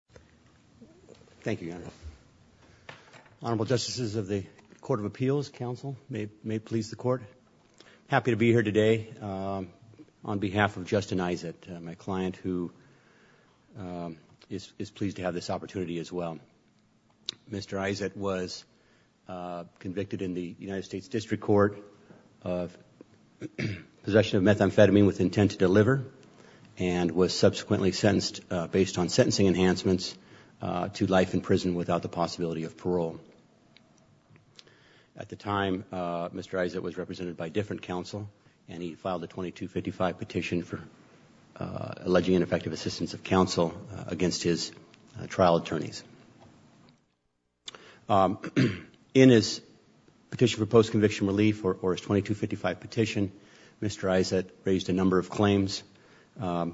District Court. Thank you, Your Honor. Honorable Justices of the Court of Appeals, counsel, may it please the Court. Happy to be here today on behalf of Justin Izatt, my client who is pleased to have this opportunity as well. Mr. Izatt was convicted in the United States District Court of possession of methamphetamine with intent to deliver and was subsequently sentenced based on sentencing enhancements to life in prison without the possibility of parole. At the time, Mr. Izatt was represented by different counsel and he filed a 2255 petition for alleging ineffective assistance of counsel against his trial attorneys. In his petition for post-conviction relief, or his 2255 petition, Mr. Izatt raised a number of claims. The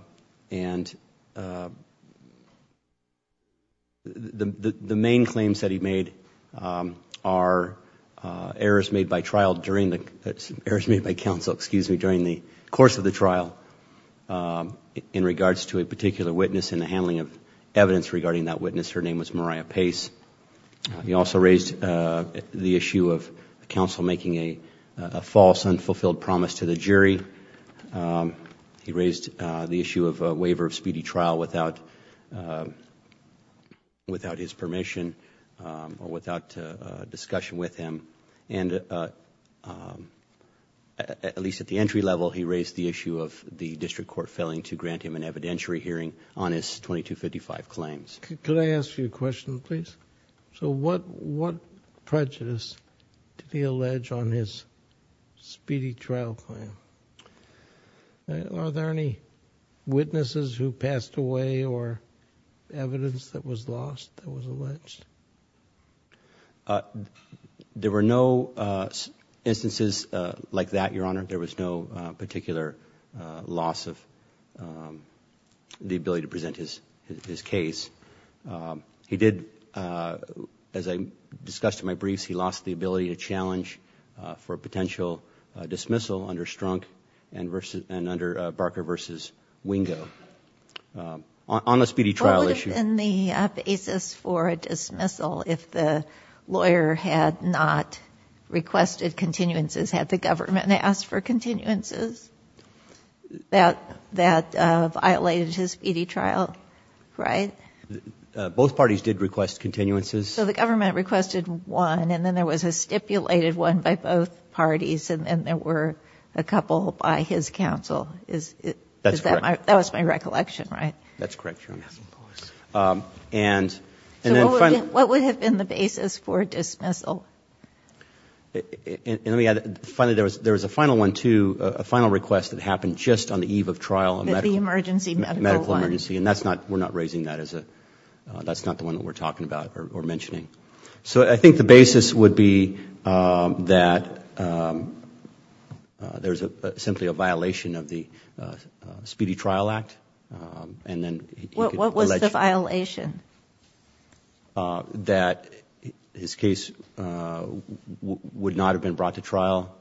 main claims that he made are errors made by counsel during the course of the trial in regards to a particular witness in the handling of evidence regarding that witness. Her name was Mariah Pace. He also raised the issue of counsel making a false and unfulfilled promise to the jury. He raised the issue of a waiver of speedy trial without his permission or without discussion with him. At least at the entry level, he raised the issue of the District Court failing to grant him an evidentiary hearing on his 2255 claims. Could I ask you a question, please? So what prejudice did he allege on his speedy trial claim? Are there any witnesses who passed away or evidence that was lost that was alleged? There were no instances like that, Your Honor. There was no particular loss of the ability to present his case. He did, as I discussed in my briefs, he lost the ability to challenge for a potential dismissal under Strunk and under Barker v. Wingo on the speedy trial issue. What would have been the basis for a dismissal if the lawyer had not requested continuances, had the government asked for continuances, that violated his speedy trial, right? Both parties did request continuances. So the government requested one and then there was a stipulated one by both parties and then there were a couple by his counsel. Is that my – that was my recollection, right? That's correct, Your Honor. And then – So what would have been the basis for a dismissal? And let me add, finally, there was a final one, too, a final request that happened just on the eve of trial. The emergency medical one. Medical emergency. And that's not – we're not raising that as a – that's not the one that we're talking about or mentioning. So I think the basis would be that there's simply a violation of the Speedy Trial Act and then – What was the violation? That his case would not have been brought to trial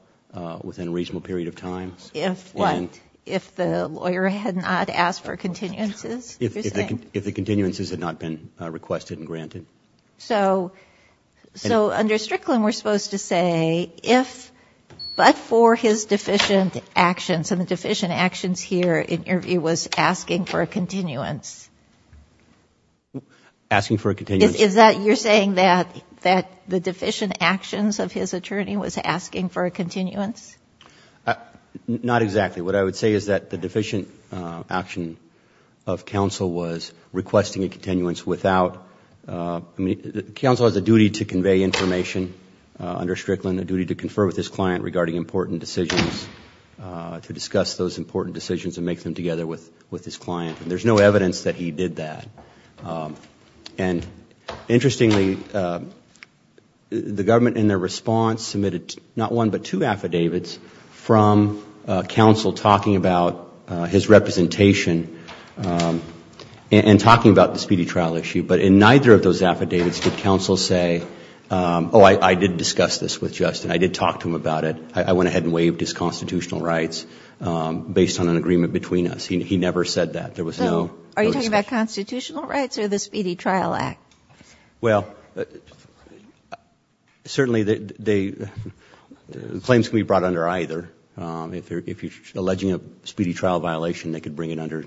within a reasonable period of time. If what? If the lawyer had not asked for continuances? If the continuances had not been requested and granted. So under Strickland, we're supposed to say if but for his deficient actions, and the deficient actions here in your view was asking for a continuance. Asking for a continuance. Is that – you're saying that the deficient actions of his attorney was asking for a continuance? Not exactly. What I would say is that the deficient action of counsel was requesting a continuance without – counsel has a duty to convey information under Strickland, a duty to confer with his client regarding important decisions, to discuss those important decisions and make them together with his client. And there's no evidence that he did that. And interestingly, the government in their response submitted not one but two affidavits from counsel talking about his representation and talking about the speedy trial issue. But in neither of those affidavits did counsel say, oh, I did discuss this with Justin. I did talk to him about it. I went ahead and waived his constitutional rights based on an agreement between us. He never said that. There was no discussion. So are you talking about constitutional rights or the Speedy Trial Act? Well, certainly they – claims can be brought under either. If you're alleging a speedy trial violation, they could bring it under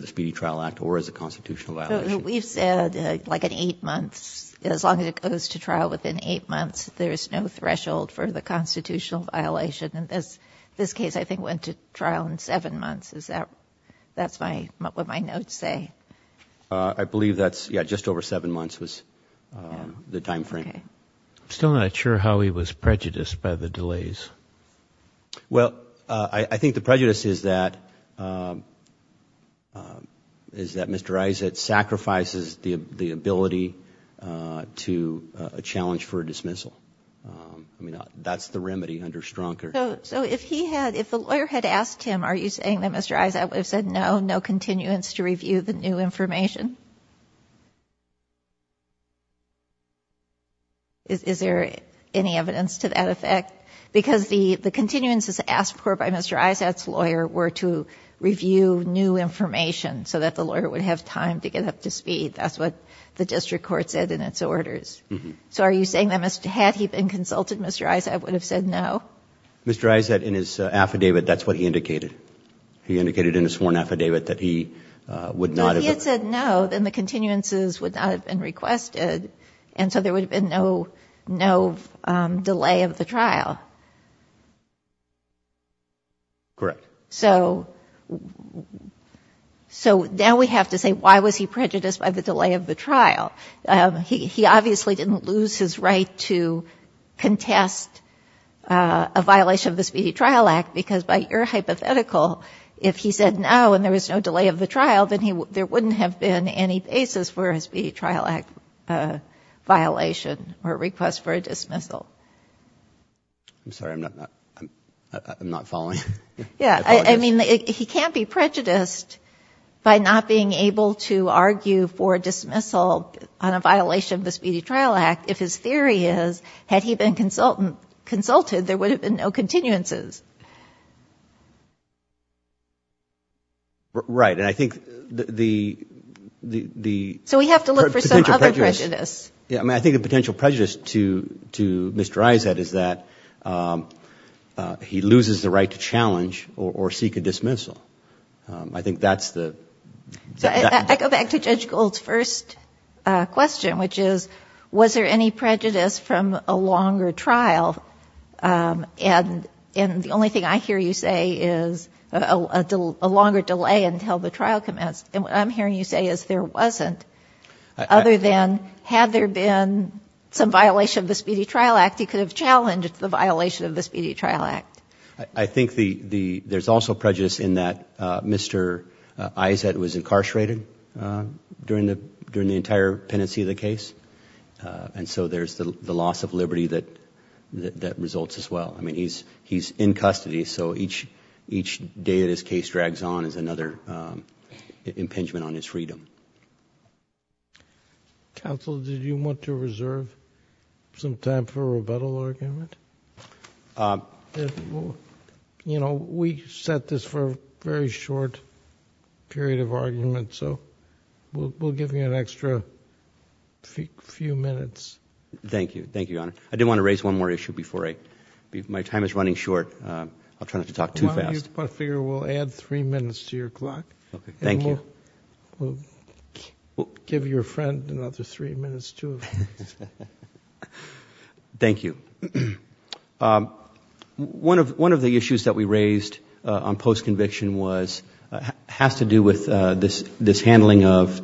the Speedy Trial Act or as a constitutional violation. But we've said like in 8 months, as long as it goes to trial within 8 months, there's no threshold for the constitutional violation. And this case I think went to trial in 7 months. Is that – that's my – what my notes say. I believe that's – yeah, just over 7 months was the timeframe. Okay. I'm still not sure how he was prejudiced by the delays. Well, I think the prejudice is that Mr. Isaac sacrifices the ability to – a challenge for a dismissal. I mean, that's the remedy under Strunk. So if he had – if the lawyer had asked him, are you saying that Mr. Isaac would have said no, no continuance to review the new information? Is there any evidence to that effect? Because the continuances asked for by Mr. Isaac's lawyer were to review new information so that the lawyer would have time to get up to speed. That's what the district court said in its orders. So are you saying that had he been consulted, Mr. Isaac would have said no? Mr. Isaac, in his affidavit, that's what he indicated. He indicated in his sworn affidavit that he would not have – If he had said no, then the continuances would not have been requested. And so there would have been no delay of the trial. Correct. So now we have to say why was he prejudiced by the delay of the trial? He obviously didn't lose his right to contest a violation of the Speedy Trial Act, because by your hypothetical, if he said no and there was no delay of the trial, then there wouldn't have been any basis for a Speedy Trial Act violation or request for a dismissal. I'm sorry. I'm not following. He can't be prejudiced by not being able to argue for a dismissal on a violation of the Speedy Trial Act if his theory is, had he been consulted, there would have been no continuances. Right. And I think the – So we have to look for some other prejudice. I think the potential prejudice to Mr. Isaac is that he loses the right to challenge the violation of the Speedy Trial Act. I go back to Judge Gould's first question, which is, was there any prejudice from a longer trial? And the only thing I hear you say is a longer delay until the trial commenced. And what I'm hearing you say is there wasn't, other than had there been some violation of the Speedy Trial Act, he could have challenged the violation of the Speedy Trial Act. I think there's also prejudice in that Mr. Isaac was incarcerated during the entire pendency of the case. And so there's the loss of liberty that results as well. I mean, he's in custody, so each day that his case drags on is another impingement on his freedom. Counsel, did you want to reserve some time for a rebuttal argument? You know, we set this for a very short period of argument, so we'll give you an extra few minutes. Thank you. Thank you, Your Honor. I did want to raise one more issue before I – my time is running short. I'll try not to talk too fast. Well, I figure we'll add three minutes to your clock. Thank you. We'll give your friend another three minutes, too. Thank you. One of the issues that we raised on post-conviction has to do with this handling of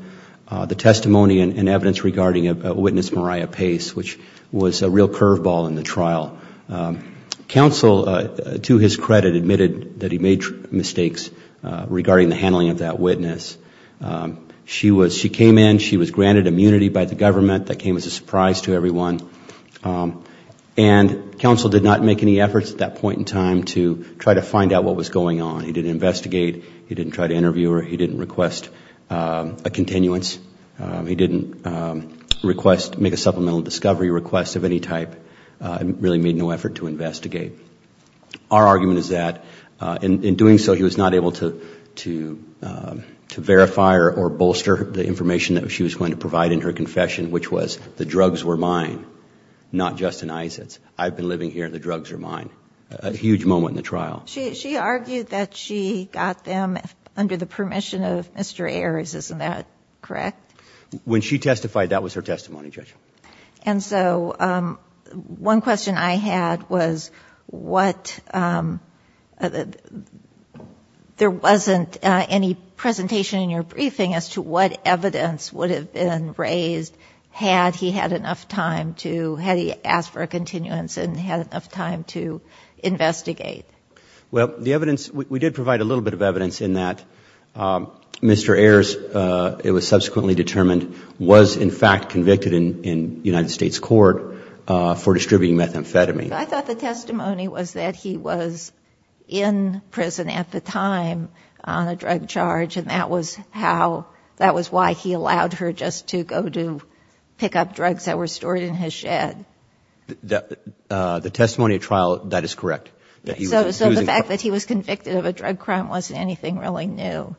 the testimony and evidence regarding a witness, Mariah Pace, which was a real curveball in the trial. Counsel, to his credit, admitted that he made mistakes regarding the handling of that witness. She was – she came in, she was granted immunity by the government. That came as a surprise to everyone. And counsel did not make any efforts at that point in time to try to find out what was going on. He didn't investigate. He didn't try to interview her. He didn't request a continuance. He didn't request – make a supplemental discovery request of any type. Really made no effort to investigate. Our argument is that in doing so, he was not able to verify or bolster the information that she was going to provide in her confession, which was the drugs were mine, not Justin Isaacs. I've been living here. The drugs are mine. A huge moment in the trial. She argued that she got them under the permission of Mr. Ayers, isn't that correct? When she testified, that was her testimony, Judge. And so one question I had was what – there wasn't any presentation in your briefing as to what evidence would have been raised had he had enough time to – had he asked for a continuance and had enough time to investigate. Well, the evidence – we did provide a little bit of evidence in that Mr. Ayers, it was subsequently determined, was in fact convicted in United States court for distributing methamphetamine. I thought the testimony was that he was in prison at the time on a drug charge, and that was how – that was why he allowed her just to go to pick up drugs that were stored in his shed. The testimony at trial, that is correct. So the fact that he was convicted of a drug crime wasn't anything really new?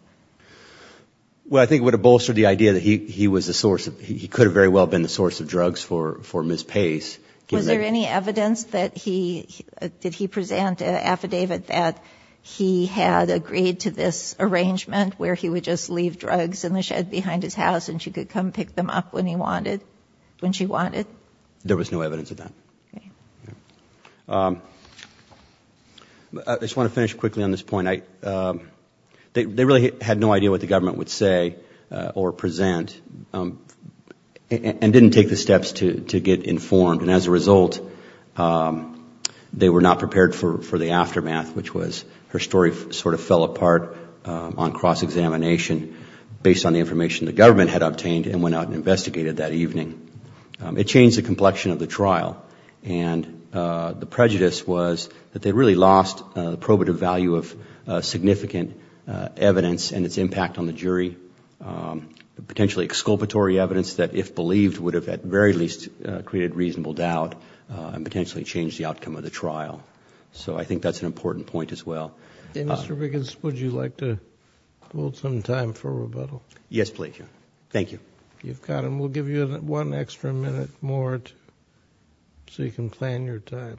Well, I think it would have bolstered the idea that he was the source of – he could have very well been the source of drugs for Ms. Pace. Was there any evidence that he – did he present an affidavit that he had agreed to this arrangement where he would just leave drugs in the shed behind his house and she could come pick them up when he wanted – when she wanted? There was no evidence of that. I just want to finish quickly on this point. They really had no idea what the government would say or present and didn't take the steps to get informed, and as a result they were not prepared for the aftermath, which was her story sort of fell apart on cross-examination based on the information the government had obtained and went out and investigated that evening. It changed the complexion of the trial, and the prejudice was that they really lost the probative value of significant evidence and its impact on the jury, potentially exculpatory evidence that, if believed, would have at very least created reasonable doubt and potentially changed the outcome of the trial. So I think that's an important point as well. Mr. Wiggins, would you like to hold some time for rebuttal? Yes, please. Thank you. You've got them. We'll give you one extra minute more so you can plan your time.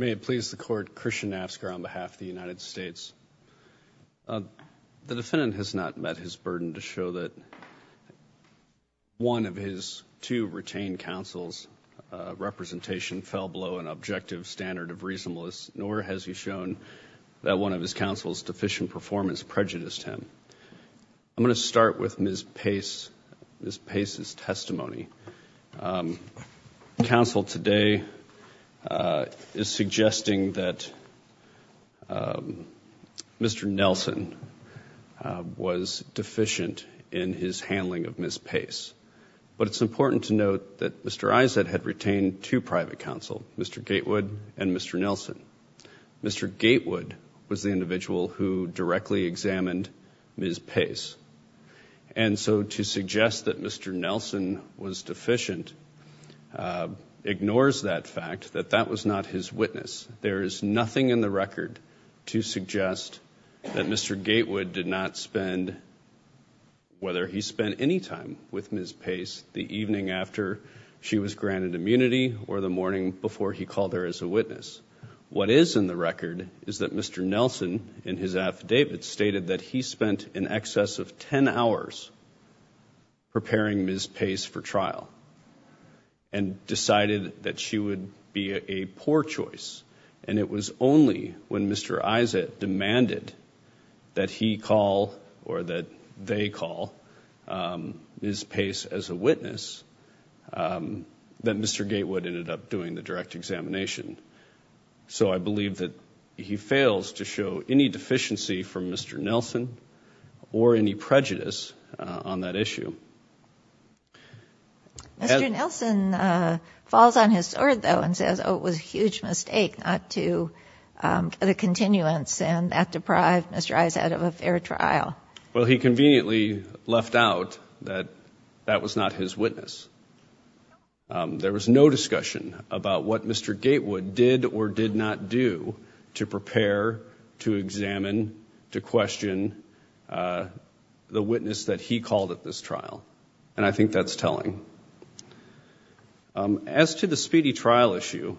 May it please the Court. Christian Nasker on behalf of the United States. The defendant has not met his burden to show that one of his two retained counsels' representation fell below an objective standard of reasonableness, nor has he shown that one of his counsel's deficient performance prejudiced him. I'm going to start with Ms. Pace's testimony. Counsel today is suggesting that Mr. Nelson was deficient in his handling of Ms. Pace, but it's important to note that Mr. Izett had retained two private counsel, Mr. Gatewood and Mr. Nelson. Mr. Gatewood was the individual who directly examined Ms. Pace, and so to suggest that Mr. Nelson was deficient ignores that fact that that was not his witness. There is nothing in the record to suggest that Mr. Gatewood did not spend, whether he spent any time with Ms. Pace the evening after she was granted immunity or the morning before he called her as a witness. What is in the record is that Mr. Nelson, in his affidavit, stated that he spent in excess of 10 hours preparing Ms. Pace for trial and decided that she would be a poor choice, and it was only when Mr. Izett demanded that he call or that they call Ms. Pace as a witness that Mr. Gatewood ended up doing the direct examination. So I believe that he fails to show any deficiency from Mr. Nelson or any prejudice on that issue. Mr. Nelson falls on his sword, though, and says, oh, it was a huge mistake not to get a continuance, and that deprived Mr. Izett of a fair trial. Well, he conveniently left out that that was not his witness. There was no discussion about what Mr. Gatewood did or did not do to prepare, to examine, to question the witness that he called at this trial, and I think that's telling. As to the speedy trial issue,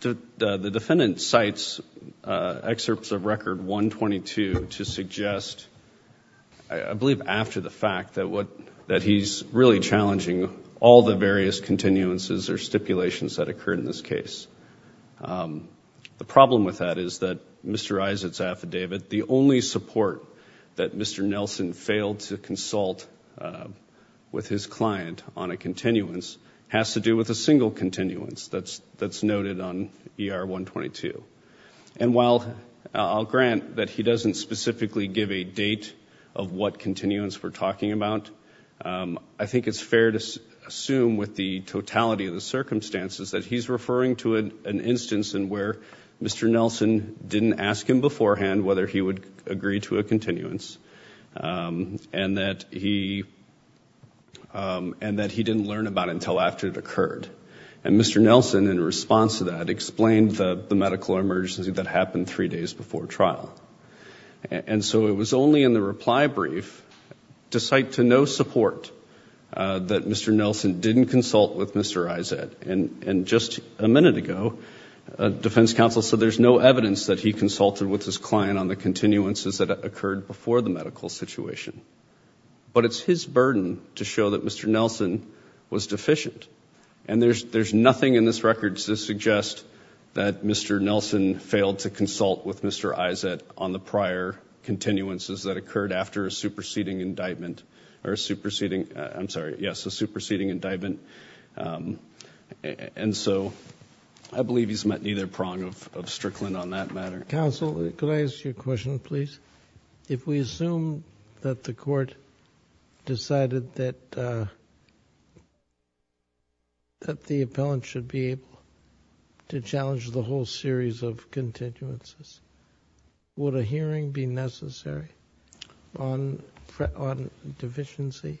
the defendant cites excerpts of Record 122 to suggest, I believe after the fact, that he's really challenging all the various continuances or stipulations that occurred in this case. The problem with that is that Mr. Izett's affidavit, the only support that Mr. Nelson failed to consult with his client on a continuance has to do with a single continuance that's noted on ER 122. And while I'll grant that he doesn't specifically give a date of what continuance we're talking about, I think it's fair to assume with the totality of the circumstances that he's referring to an instance in where Mr. Nelson didn't ask him beforehand whether he would agree to a continuance and that he didn't learn about it until after it occurred. And Mr. Nelson, in response to that, explained the medical emergency that happened three days before trial. And so it was only in the reply brief, to cite to no support, that Mr. Nelson didn't consult with Mr. Izett. And just a minute ago, defense counsel said there's no evidence that he consulted with his client on the continuances that occurred before the medical situation. But it's his burden to show that Mr. Nelson was deficient. And there's nothing in this record to suggest that Mr. Nelson failed to consult with Mr. Izett on the prior continuances that occurred after a superseding indictment, or a superseding, I'm sorry, yes, a superseding indictment. And so I believe he's met neither prong of Strickland on that matter. Counsel, could I ask you a question, please? If we assume that the court decided that the appellant should be able to challenge the whole series of continuances, would a hearing be necessary on deficiency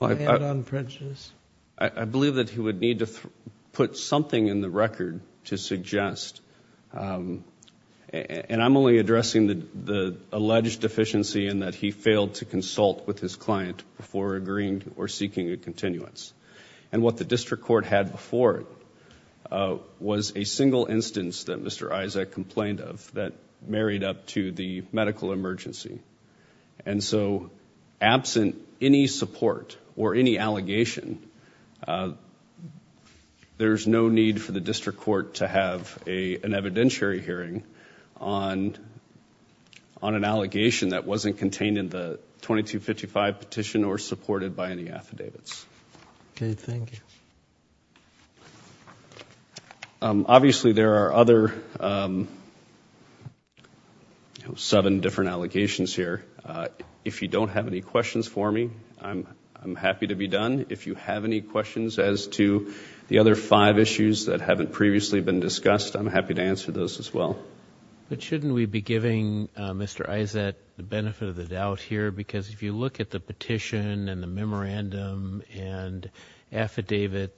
and on prejudice? I believe that he would need to put something in the record to suggest and I'm only addressing the alleged deficiency in that he failed to consult with his client before agreeing or seeking a continuance. And what the district court had before it was a single instance that Mr. Izett complained of that married up to the medical emergency. And so absent any support or any allegation, there's no need for the district court to have an evidentiary hearing on an allegation that wasn't contained in the 2255 petition or supported by any affidavits. Okay, thank you. Obviously there are other seven different allegations here. If you don't have any questions for me, I'm happy to be done. If you have any questions as to the other five issues that haven't previously been discussed, I'm happy to answer those as well. But shouldn't we be giving Mr. Izett the benefit of the doubt here? Because if you look at the petition and the memorandum and affidavit,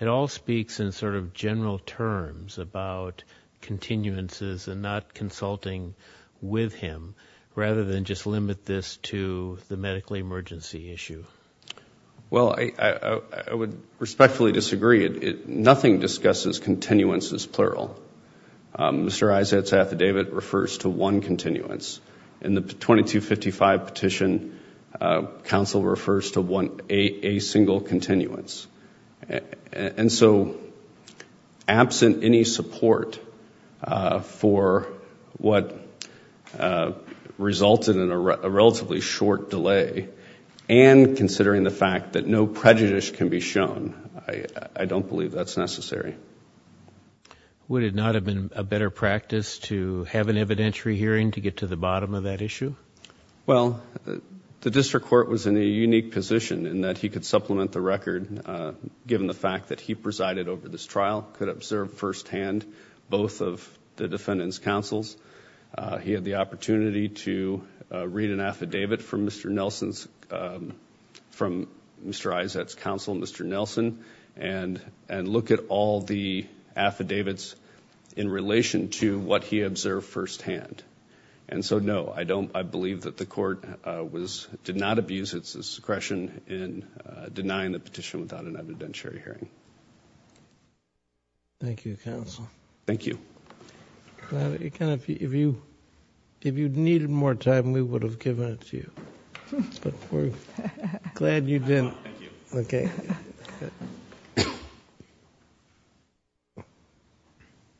it all speaks in sort of general terms about continuances and not consulting with him rather than just limit this to the medical emergency issue. Well, I would respectfully disagree. Nothing discusses continuances plural. Mr. Izett's affidavit refers to one continuance. In the 2255 petition, counsel refers to a single continuance. And so absent any support for what resulted in a relatively short delay and considering the fact that no prejudice can be shown, I don't believe that's necessary. Would it not have been a better practice to have an evidentiary hearing to get to the bottom of that issue? Well, the district court was in a unique position in that he could supplement the record given the fact that he presided over this trial, could observe firsthand both of the defendant's counsels. He had the opportunity to read an affidavit from Mr. Izett's counsel, Mr. Nelson, and look at all the affidavits in relation to what he observed firsthand. And so no, I believe that the court did not abuse its discretion in denying the petition without an evidentiary hearing. Thank you, counsel. Thank you. If you needed more time, we would have given it to you. Glad you didn't.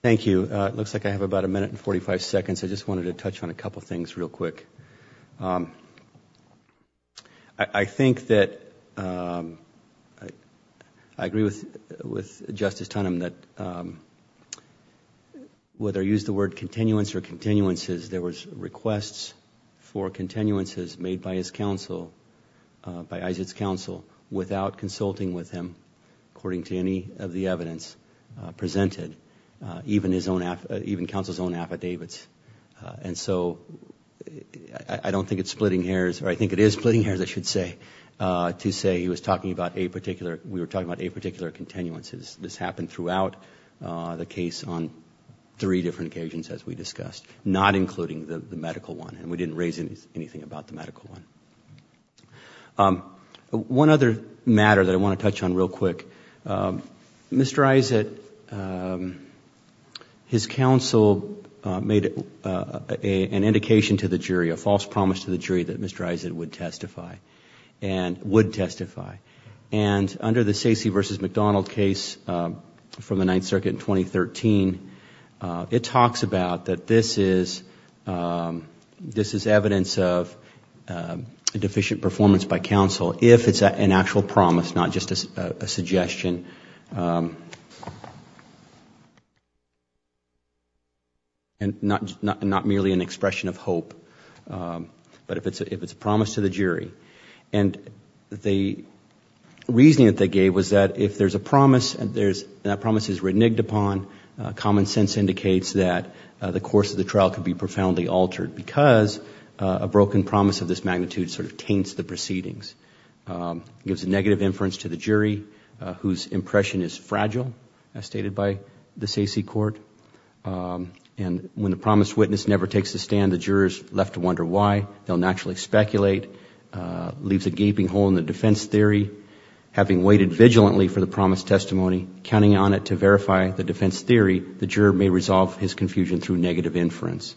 Thank you. It looks like I have about a minute and 45 seconds. I just wanted to touch on a couple things real quick. Whether I use the word continuance or continuances, there was requests for continuances made by his counsel, by Izett's counsel, without consulting with him, according to any of the evidence presented, even counsel's own affidavits. And so I don't think it's splitting hairs, or I think it is splitting hairs, I should say, to say he was talking about a particular, we were talking about a particular continuance. This happened throughout the case on three different occasions, as we discussed, not including the medical one, and we didn't raise anything about the medical one. One other matter that I want to touch on real quick. Mr. Izett, his counsel made an indication to the jury, a false promise to the jury, that Mr. Izett would testify, and would testify. And under the Sacy v. McDonald case from the Ninth Circuit in 2013, it talks about that this is evidence of a deficient performance by counsel, if it's an actual promise, not just a suggestion, and not merely an expression of hope, but if it's a promise to the jury. And the reasoning that they gave was that if there's a promise, and that promise is reneged upon, common sense indicates that the course of the trial could be profoundly altered, because a broken promise of this magnitude sort of taints the proceedings. It gives a negative inference to the jury, whose impression is fragile, as stated by the Sacy court. And when the promised witness never takes a stand, the jurors are left to wonder why. They'll naturally speculate, leaves a gaping hole in the defense theory. Having waited vigilantly for the promised testimony, counting on it to verify the defense theory, the juror may resolve his confusion through negative inference.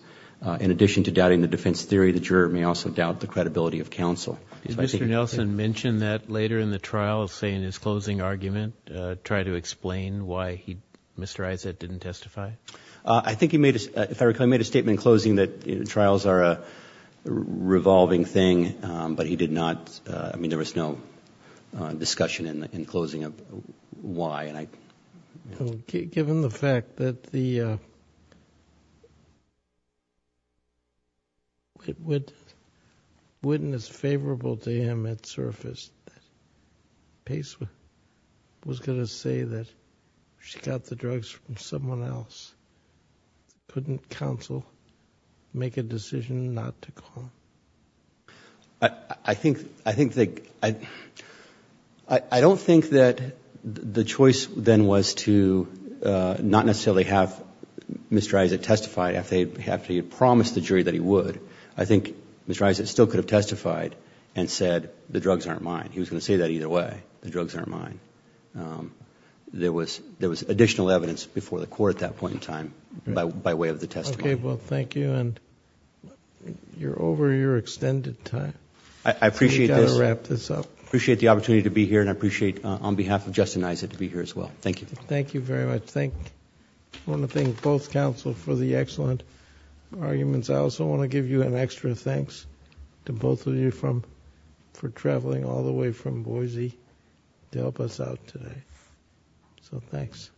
In addition to doubting the defense theory, the juror may also doubt the credibility of counsel. Did Mr. Nelson mention that later in the trial, say in his closing argument, try to explain why Mr. Izzett didn't testify? I think he made, if I recall, he made a statement in closing that trials are a revolving thing, but he did not, I mean, there was no discussion in closing of why. Given the fact that the witness favorable to him had surfaced, Pace was going to say that she got the drugs from someone else. Couldn't counsel make a decision not to call him? I think that, I don't think that the choice of Mr. Izzett then was to not necessarily have Mr. Izzett testify after he had promised the jury that he would. I think Mr. Izzett still could have testified and said the drugs aren't mine. He was going to say that either way, the drugs aren't mine. There was additional evidence before the court at that point in time by way of the testimony. Okay, well, thank you, and you're over your extended time. I appreciate the opportunity to be here, and I appreciate on behalf of Justin Izzett to be here as well. Thank you. Thank you very much. I want to thank both counsel for the excellent arguments. I also want to give you an extra thanks to both of you for traveling all the way from Boise to help us out today. So thanks. Thank you.